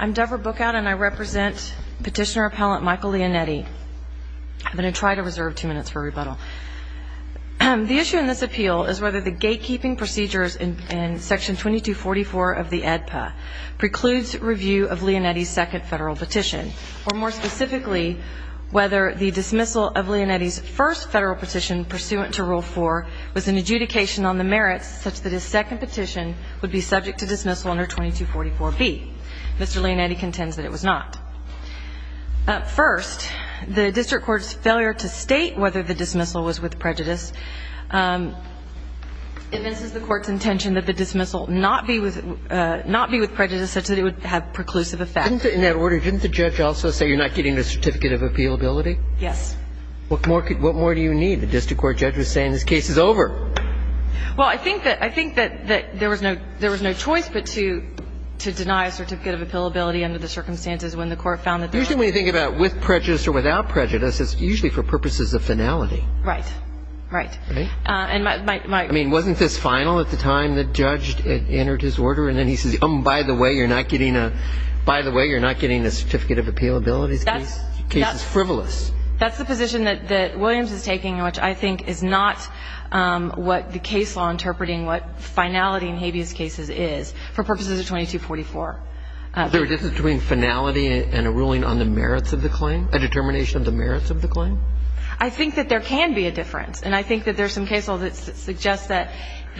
I'm Debra Bookout and I represent petitioner appellant Michael Leonetti. I'm going to try to reserve two minutes for rebuttal. The issue in this appeal is whether the gatekeeping procedures in Section 2244 of the AEDPA precludes review of Leonetti's second federal petition, or more specifically, whether the dismissal of Leonetti's first federal petition pursuant to Rule 4 was an adjudication on the merits such that his second petition would be subject to dismissal under 2244B. Mr. Leonetti contends that it was not. First, the district court's failure to state whether the dismissal was with prejudice evinces the court's intention that the dismissal not be with prejudice such that it would have preclusive effect. In that order, didn't the judge also say you're not getting the certificate of appealability? Yes. What more do you need? The district court judge was saying this case is over. Well, I think that there was no choice but to deny a certificate of appealability under the circumstances when the court found that there was. Usually when you think about with prejudice or without prejudice, it's usually for purposes of finality. Right. Right. I mean, wasn't this final at the time the judge entered his order? And then he says, oh, by the way, you're not getting a certificate of appealability? The case is frivolous. That's the position that Williams is taking, which I think is not what the case law interpreting what finality in habeas cases is for purposes of 2244. Is there a difference between finality and a ruling on the merits of the claim, a determination of the merits of the claim? I think that there can be a difference, and I think that there's some case law that suggests that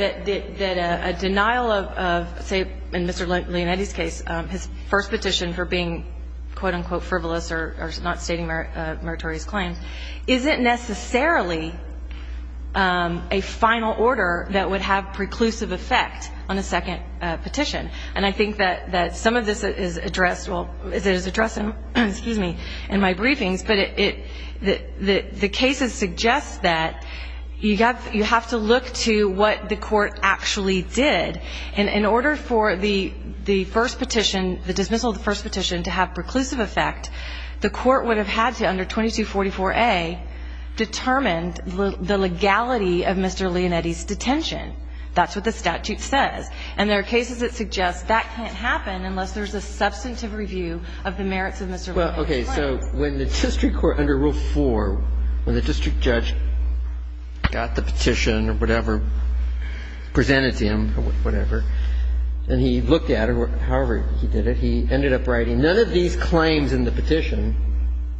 a denial of, say, in Mr. Leonetti's case, his first petition for being, quote, unquote, frivolous or not stating meritorious claims, isn't necessarily a final order that would have preclusive effect on a second petition. And I think that some of this is addressed in my briefings, but the cases suggest that you have to look to what the court actually did. And in order for the first petition, the dismissal of the first petition to have preclusive effect, the court would have had to, under 2244A, determine the legality of Mr. Leonetti's detention. That's what the statute says. And there are cases that suggest that can't happen unless there's a substantive review of the merits of Mr. Leonetti's claim. Well, okay. So when the district court under Rule 4, when the district judge got the petition or whatever presented to him or whatever, and he looked at it, however he did it, he ended up writing, None of these claims in the petition,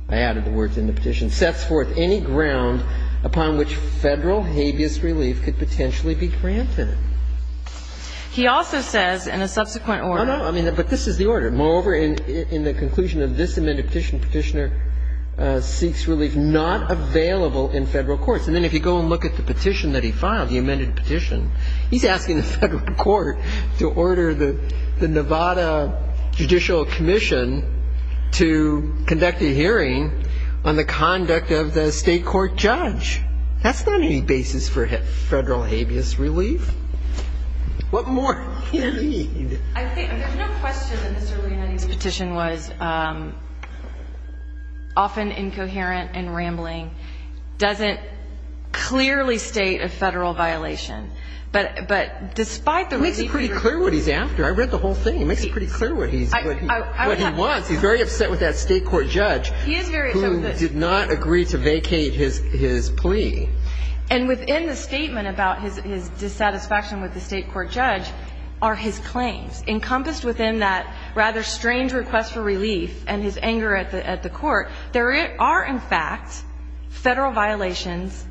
I added the words in the petition, sets forth any ground upon which Federal habeas relief could potentially be granted. He also says in a subsequent order. Oh, no. I mean, but this is the order. Moreover, in the conclusion of this amended petition, Petitioner seeks relief not available in Federal courts. And then if you go and look at the petition that he filed, the amended petition, he's asking the Federal court to order the Nevada Judicial Commission to conduct a hearing on the conduct of the state court judge. That's not any basis for Federal habeas relief. What more do you need? I think there's no question that Mr. Leonetti's petition was often incoherent and rambling. It doesn't clearly state a Federal violation. But despite the relief he received. It makes it pretty clear what he's after. I read the whole thing. It makes it pretty clear what he wants. He's very upset with that state court judge who did not agree to vacate his plea. And within the statement about his dissatisfaction with the state court judge are his claims. Encompassed within that rather strange request for relief and his anger at the court, there are, in fact, Federal violations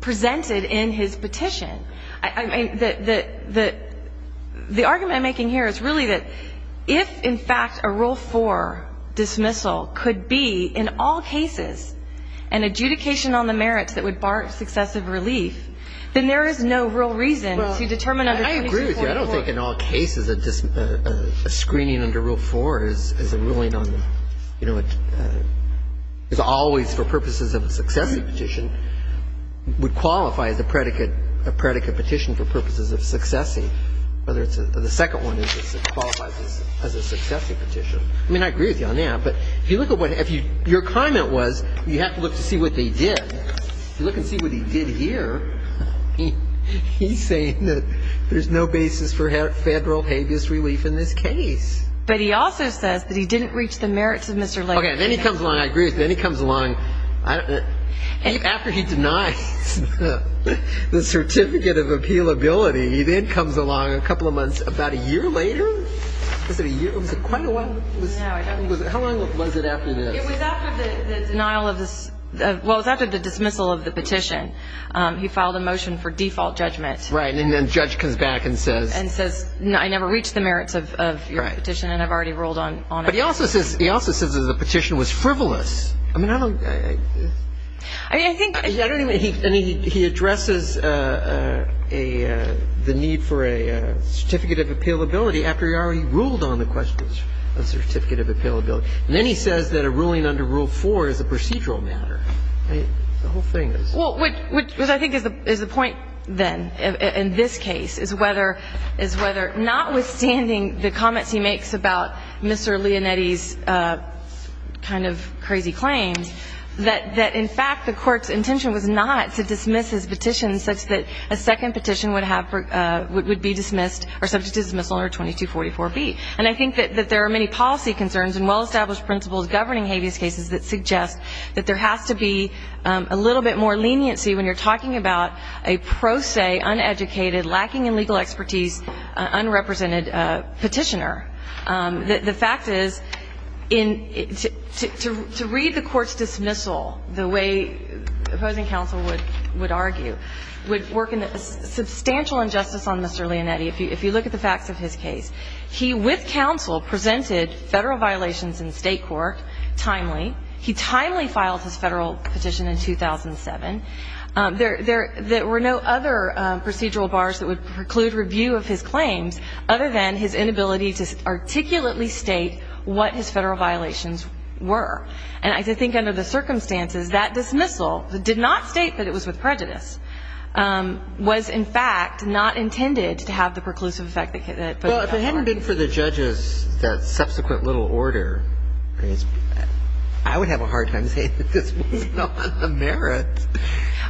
presented in his petition. The argument I'm making here is really that if, in fact, a Rule 4 dismissal could be in all cases an adjudication on the merits that would bar successive relief, then there is no real reason to determine under 22.4. I don't think in all cases a screening under Rule 4 is a ruling on the, you know, it's always for purposes of a successive petition would qualify as a predicate petition for purposes of successive. The second one qualifies as a successive petition. I mean, I agree with you on that. But if you look at what your comment was, you have to look to see what they did. If you look and see what he did here, he's saying that there's no basis for Federal habeas relief in this case. But he also says that he didn't reach the merits of Mr. Lake. Okay, then he comes along. I agree with you. Then he comes along. After he denies the certificate of appealability, he then comes along a couple of months, about a year later. Was it a year? Was it quite a while? No, I don't think so. How long was it after this? It was after the denial of the ‑‑ well, it was after the dismissal of the petition. He filed a motion for default judgment. Right. And then the judge comes back and says. And says, I never reached the merits of your petition and I've already ruled on it. But he also says that the petition was frivolous. I mean, I don't. I mean, I think. I don't even. I mean, he addresses the need for a certificate of appealability after he already ruled on the question of certificate of appealability. And then he says that a ruling under Rule 4 is a procedural matter. I mean, the whole thing is. Well, which I think is the point, then, in this case, is whether notwithstanding the comments he makes about Mr. Leonetti's kind of crazy claims, that in fact the court's intention was not to dismiss his petition such that a second petition would be dismissed or subject to dismissal under 2244B. And I think that there are many policy concerns and well-established principles governing habeas cases that suggest that there has to be a little bit more leniency when you're talking about a pro se, uneducated, lacking in legal expertise, unrepresented petitioner. The fact is, to read the court's dismissal the way opposing counsel would argue would work in substantial injustice on Mr. Leonetti. He, with counsel, presented federal violations in state court timely. He timely filed his federal petition in 2007. There were no other procedural bars that would preclude review of his claims other than his inability to articulately state what his federal violations were. And I think under the circumstances, that dismissal did not state that it was with prejudice, was, in fact, not intended to have the preclusive effect that it did. And so I think there's a lot about that. Well, if it hadn't been for the judges, that subsequent little order, I would have a hard time saying that this was not the merit.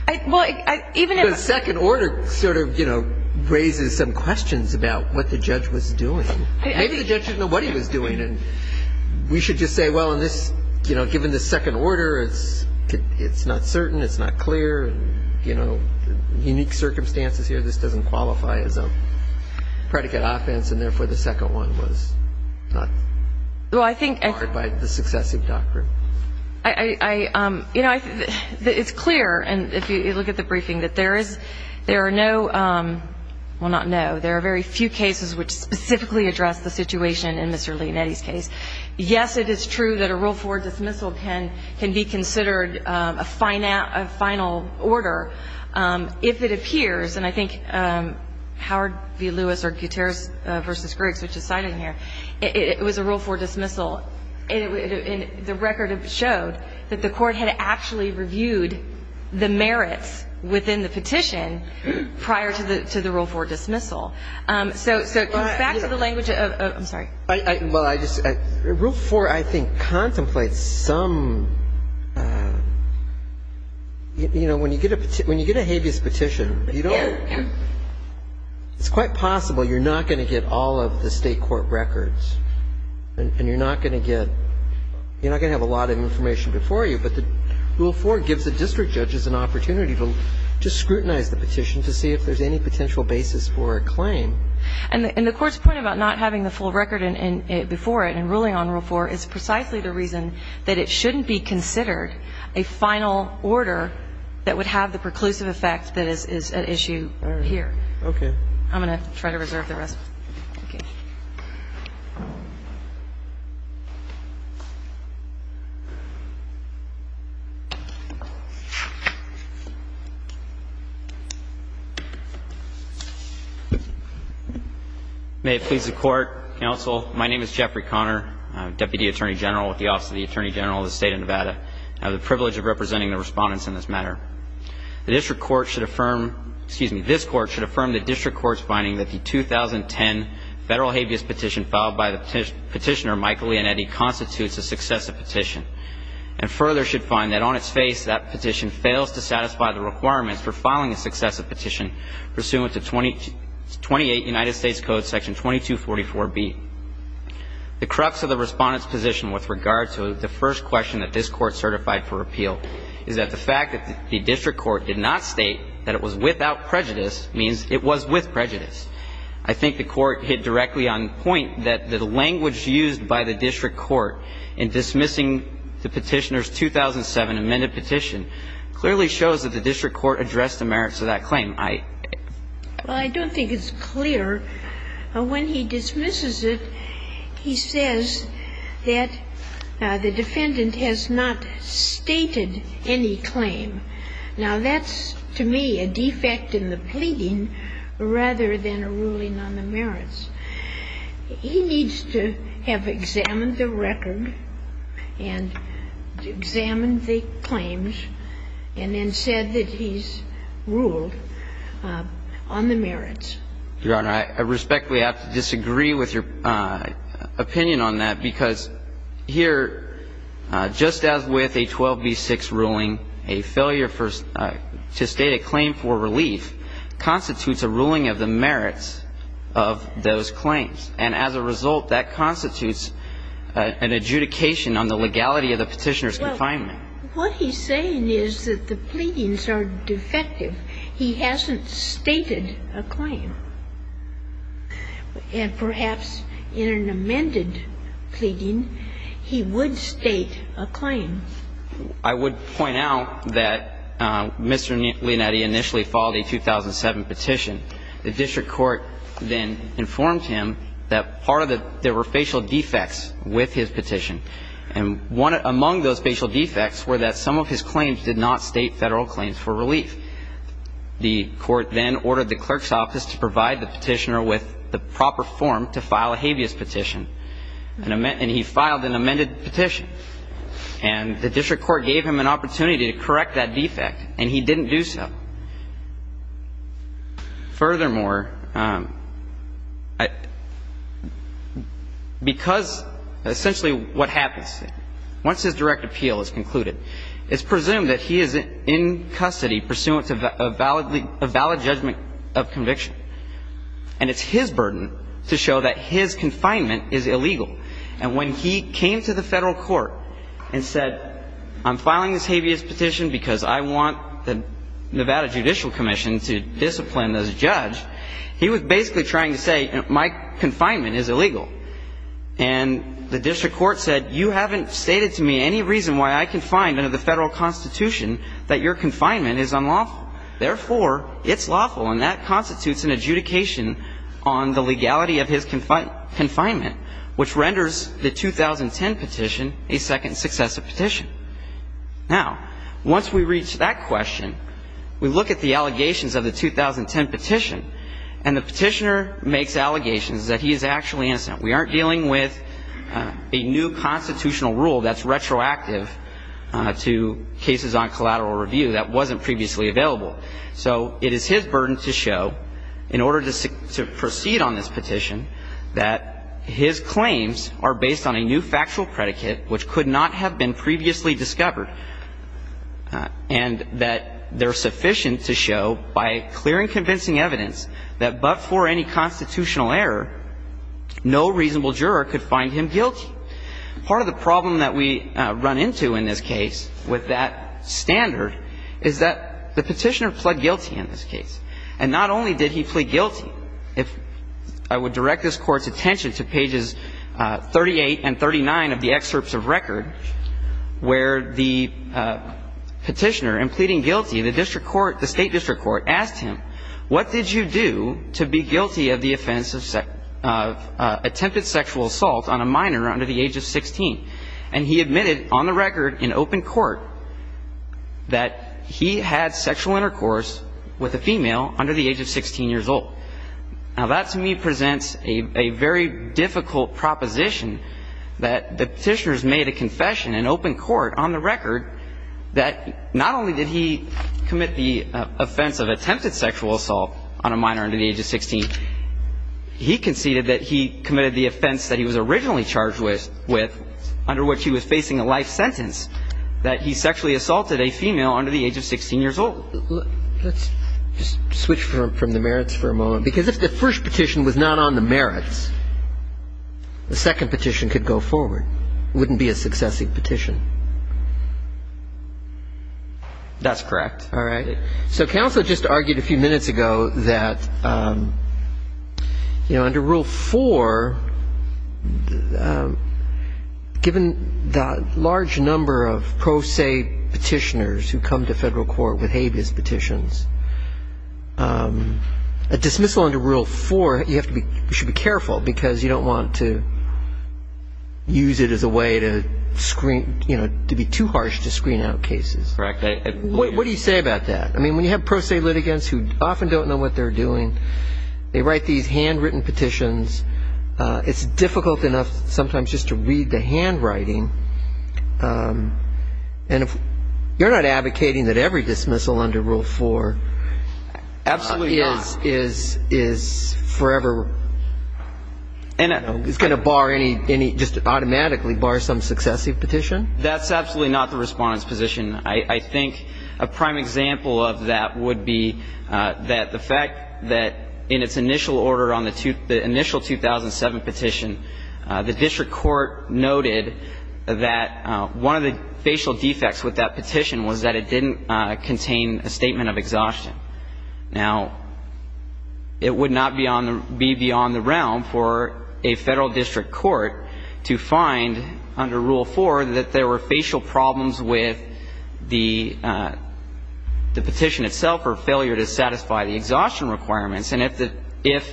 Because second order sort of, you know, raises some questions about what the judge was doing. Maybe the judge didn't know what he was doing. And we should just say, well, in this ‑‑ you know, given the second order, it's not certain, it's not clear. And, you know, the unique circumstances here, this doesn't qualify as a predicate offense, and therefore the second one was not ‑‑ Well, I think ‑‑‑‑ barred by the successive doctrine. I ‑‑ you know, it's clear, and if you look at the briefing, that there is ‑‑ there are no ‑‑ well, not no. There are very few cases which specifically address the situation in Mr. Leonetti's case. Yes, it is true that a Rule 4 dismissal can be considered a final order if it appears, and I think Howard v. Lewis or Gutierrez v. Griggs, which is cited here, it was a Rule 4 dismissal. And the record showed that the court had actually reviewed the merits within the petition prior to the Rule 4 dismissal. So back to the language of ‑‑ I'm sorry. I ‑‑ well, I just ‑‑ Rule 4, I think, contemplates some ‑‑ you know, when you get a habeas petition, you don't ‑‑ it's quite possible you're not going to get all of the state court records, and you're not going to get ‑‑ you're not going to have a lot of information before you, but the Rule 4 gives the district judges an opportunity to scrutinize the petition to see if there's any potential basis for a claim. And the court's point about not having the full record before it and ruling on Rule 4 is precisely the reason that it shouldn't be considered a final order that would have the preclusive effect that is at issue here. All right. Okay. I'm going to try to reserve the rest. Okay. May it please the Court, Counsel, my name is Jeffrey Conner, Deputy Attorney General with the Office of the Attorney General of the State of Nevada. I have the privilege of representing the respondents in this matter. The district court should affirm ‑‑ excuse me, this court should affirm the district court's finding that the 2010 federal habeas petition filed by the petitioner Michael Leonetti constitutes a successive petition and further should find that on its face that petition fails to satisfy the requirements for filing a successive petition pursuant to 28 United States Code section 2244B. The crux of the respondent's position with regard to the first question that this court certified for repeal is that the fact that the district court did not state that it was without prejudice means it was with prejudice. I think the court hit directly on the point that the language used by the district court in dismissing the petitioner's 2007 amended petition clearly shows that the district court addressed the merits of that claim. Well, I don't think it's clear. When he dismisses it, he says that the defendant has not stated any claim. Now, that's, to me, a defect in the pleading rather than a ruling on the merits. He needs to have examined the record and examined the claims and then said that he's ruled on the merits. Your Honor, I respectfully have to disagree with your opinion on that because here, just as with a 12B6 ruling, a failure to state a claim for relief constitutes a ruling of the merits of those claims. And as a result, that constitutes an adjudication on the legality of the petitioner's confinement. Well, what he's saying is that the pleadings are defective. He hasn't stated a claim. And perhaps in an amended pleading, he would state a claim. I would point out that Mr. Leonetti initially filed a 2007 petition. The district court then informed him that part of the ---- there were facial defects with his petition. And one ---- among those facial defects were that some of his claims did not state federal claims for relief. The court then ordered the clerk's office to provide the petitioner with the proper form to file a habeas petition. And he filed an amended petition. And the district court gave him an opportunity to correct that defect, and he didn't do so. Furthermore, because essentially what happens, once his direct appeal is concluded, it's presumed that he is in custody pursuant to a valid judgment of conviction. And it's his burden to show that his confinement is illegal. And when he came to the federal court and said, I'm filing this habeas petition because I want the Nevada Judicial Commission to discipline the judge, he was basically trying to say my confinement is illegal. And the district court said, You haven't stated to me any reason why I can find under the federal constitution that your confinement is unlawful. Therefore, it's lawful, and that constitutes an adjudication on the legality of his confinement, which renders the 2010 petition a second successive petition. Now, once we reach that question, we look at the allegations of the 2010 petition, and the petitioner makes allegations that he is actually innocent. We aren't dealing with a new constitutional rule that's retroactive to cases on collateral review that wasn't previously available. So it is his burden to show, in order to proceed on this petition, that his claims are based on a new factual predicate which could not have been previously discovered, and that they're sufficient to show by clear and convincing evidence that but for any constitutional error, no reasonable juror could find him guilty. Part of the problem that we run into in this case with that standard is that the petitioner pled guilty in this case. And not only did he plead guilty. If I would direct this Court's attention to pages 38 and 39 of the excerpts of record, where the petitioner, in pleading guilty, the district court, the state district court, asked him, what did you do to be guilty of the offense of attempted sexual assault on a minor under the age of 16? And he admitted on the record in open court that he had sexual intercourse with a female under the age of 16 years old. Now, that to me presents a very difficult proposition that the petitioners made a confession in open court on the record that not only did he commit the offense of attempted sexual assault on a minor under the age of 16, he conceded that he committed the offense that he was originally charged with under which he was facing a life sentence, that he sexually assaulted a female under the age of 16 years old. Let's just switch from the merits for a moment. Because if the first petition was not on the merits, the second petition could go forward. It wouldn't be a successive petition. That's correct. All right. So counsel just argued a few minutes ago that, you know, under Rule 4, given the large number of pro se petitioners who come to federal court with habeas petitions, a dismissal under Rule 4, you should be careful, because you don't want to use it as a way to screen, you know, to be too harsh to screen out cases. Correct. What do you say about that? I mean, when you have pro se litigants who often don't know what they're doing, they write these handwritten petitions. It's difficult enough sometimes just to read the handwriting. And if you're not advocating that every dismissal under Rule 4 is forever going to bar any just automatically bar some successive petition? That's absolutely not the Respondent's position. I think a prime example of that would be that the fact that in its initial order on the initial 2007 petition, the district court noted that one of the facial defects with that petition was that it didn't contain a statement of exhaustion. Now, it would not be beyond the realm for a federal district court to find under Rule 4 that there were facial problems with the petition itself or failure to satisfy the exhaustion requirements. And if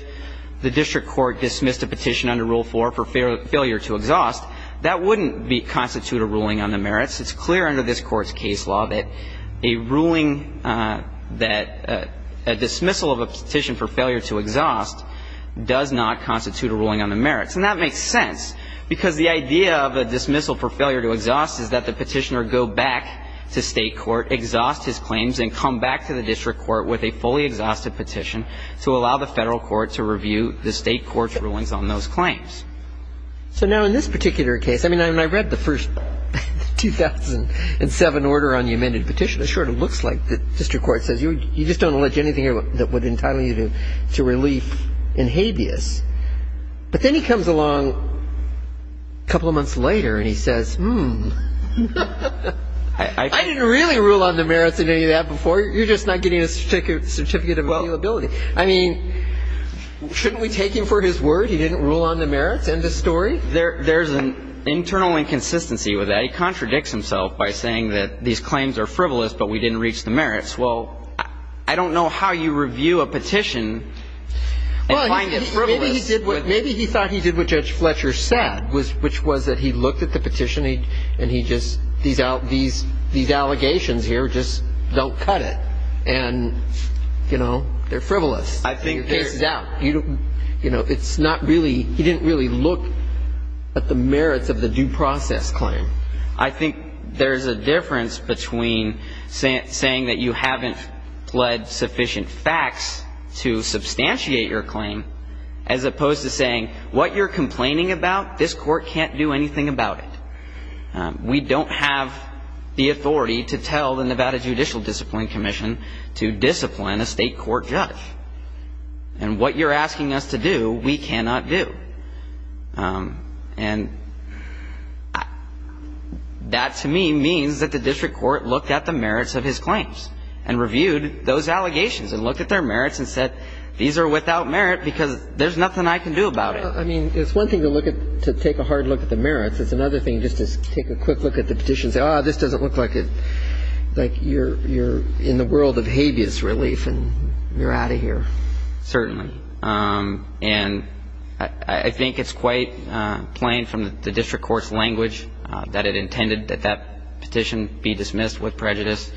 the district court dismissed a petition under Rule 4 for failure to exhaust, that wouldn't constitute a ruling on the merits. It's clear under this Court's case law that a ruling that a dismissal of a petition for failure to exhaust does not constitute a ruling on the merits. And that makes sense because the idea of a dismissal for failure to exhaust is that the petitioner go back to state court, exhaust his claims, and come back to the district court with a fully exhausted petition to allow the federal court to review the state court's rulings on those claims. So now in this particular case, I mean, when I read the first 2007 order on the amended petition, it sort of looks like the district court says you just don't allege anything here that would entitle you to relief in habeas. But then he comes along a couple of months later and he says, hmm. I didn't really rule on the merits in any of that before. You're just not getting a certificate of appealability. I mean, shouldn't we take him for his word he didn't rule on the merits? End of story. There's an internal inconsistency with that. He contradicts himself by saying that these claims are frivolous but we didn't reach the merits. Well, I don't know how you review a petition and find it frivolous. Maybe he thought he did what Judge Fletcher said, which was that he looked at the petition and he just, these allegations here just don't cut it. And, you know, they're frivolous. I think there's not really, he didn't really look at the merits of the due process claim. I think there's a difference between saying that you haven't pled sufficient facts to substantiate your claim as opposed to saying what you're complaining about, this court can't do anything about it. We don't have the authority to tell the Nevada Judicial Discipline Commission to discipline a state court judge. And what you're asking us to do, we cannot do. And that, to me, means that the district court looked at the merits of his claims and reviewed those allegations and looked at their merits and said, these are without merit because there's nothing I can do about it. I mean, it's one thing to look at, to take a hard look at the merits. It's another thing just to take a quick look at the petition and say, oh, this doesn't look like it, like you're in the world of habeas relief and you're out of here. Certainly. And I think it's quite plain from the district court's language that it intended that that petition be dismissed with prejudice.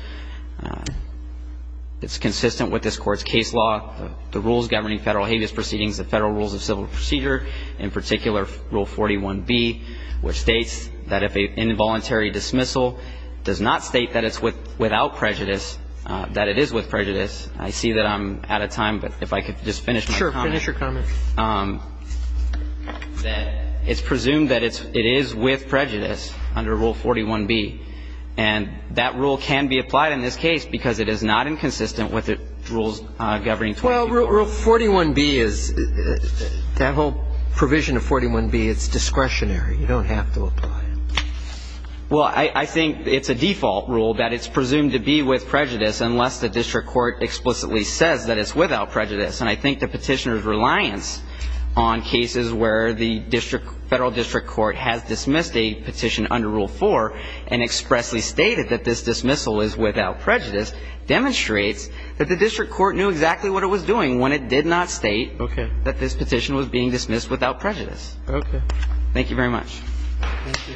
It's consistent with this court's case law, the rules governing federal habeas proceedings, the federal rules of civil procedure, in particular Rule 41B, which states that if an involuntary dismissal does not state that it's without prejudice, that it is with prejudice. I see that I'm out of time, but if I could just finish my comment. Sure. Finish your comment. That it's presumed that it is with prejudice under Rule 41B. And that rule can be applied in this case because it is not inconsistent with the rules governing 21B. Well, Rule 41B is, that whole provision of 41B, it's discretionary. You don't have to apply it. Well, I think it's a default rule that it's presumed to be with prejudice unless the district court explicitly says that it's without prejudice. And I think the petitioner's reliance on cases where the federal district court has dismissed a petition under Rule 4 and expressly stated that this dismissal is without prejudice demonstrates that the district court knew exactly what it was doing when it did not state that this petition was being dismissed without prejudice. Okay. Thank you very much. Thank you.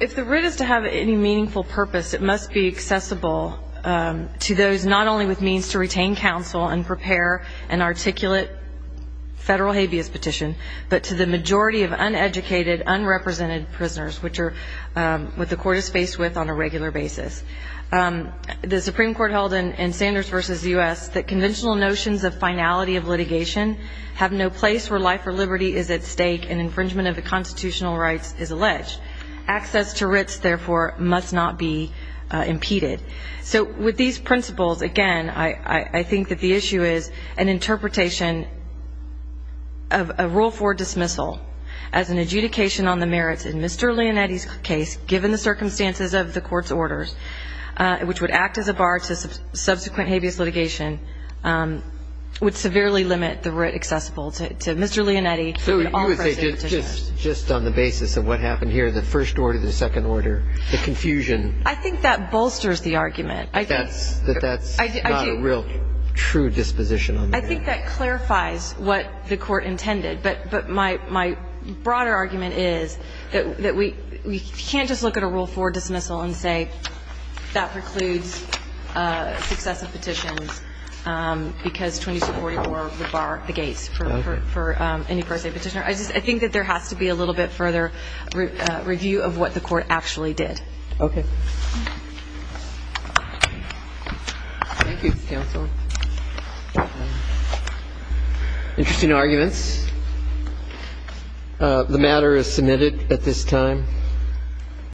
If the writ is to have any meaningful purpose, it must be accessible to those not only with means to retain counsel and prepare an articulate federal habeas petition, but to the majority of uneducated, unrepresented prisoners, which are what the court is faced with on a regular basis. The Supreme Court held in Sanders v. U.S. that conventional notions of finality of litigation have no place where life or liberty is at stake and infringement of the constitutional rights is alleged. Access to writs, therefore, must not be impeded. So with these principles, again, I think that the issue is an interpretation of a Rule 4 dismissal as an adjudication on the merits in Mr. Leonetti's case, given the circumstances of the court's orders, which would act as a bar to subsequent habeas litigation, would severely limit the writ accessible to Mr. Leonetti. So you would say just on the basis of what happened here, the first order, the second order, the confusion. I think that bolsters the argument. That that's not a real true disposition. I think that clarifies what the court intended. But my broader argument is that we can't just look at a Rule 4 dismissal and say that precludes successive petitions because 2244 would bar the gates for any per se petitioner. I think that there has to be a little bit further review of what the court actually did. OK. Thank you, counsel. Interesting arguments. The matter is submitted at this time.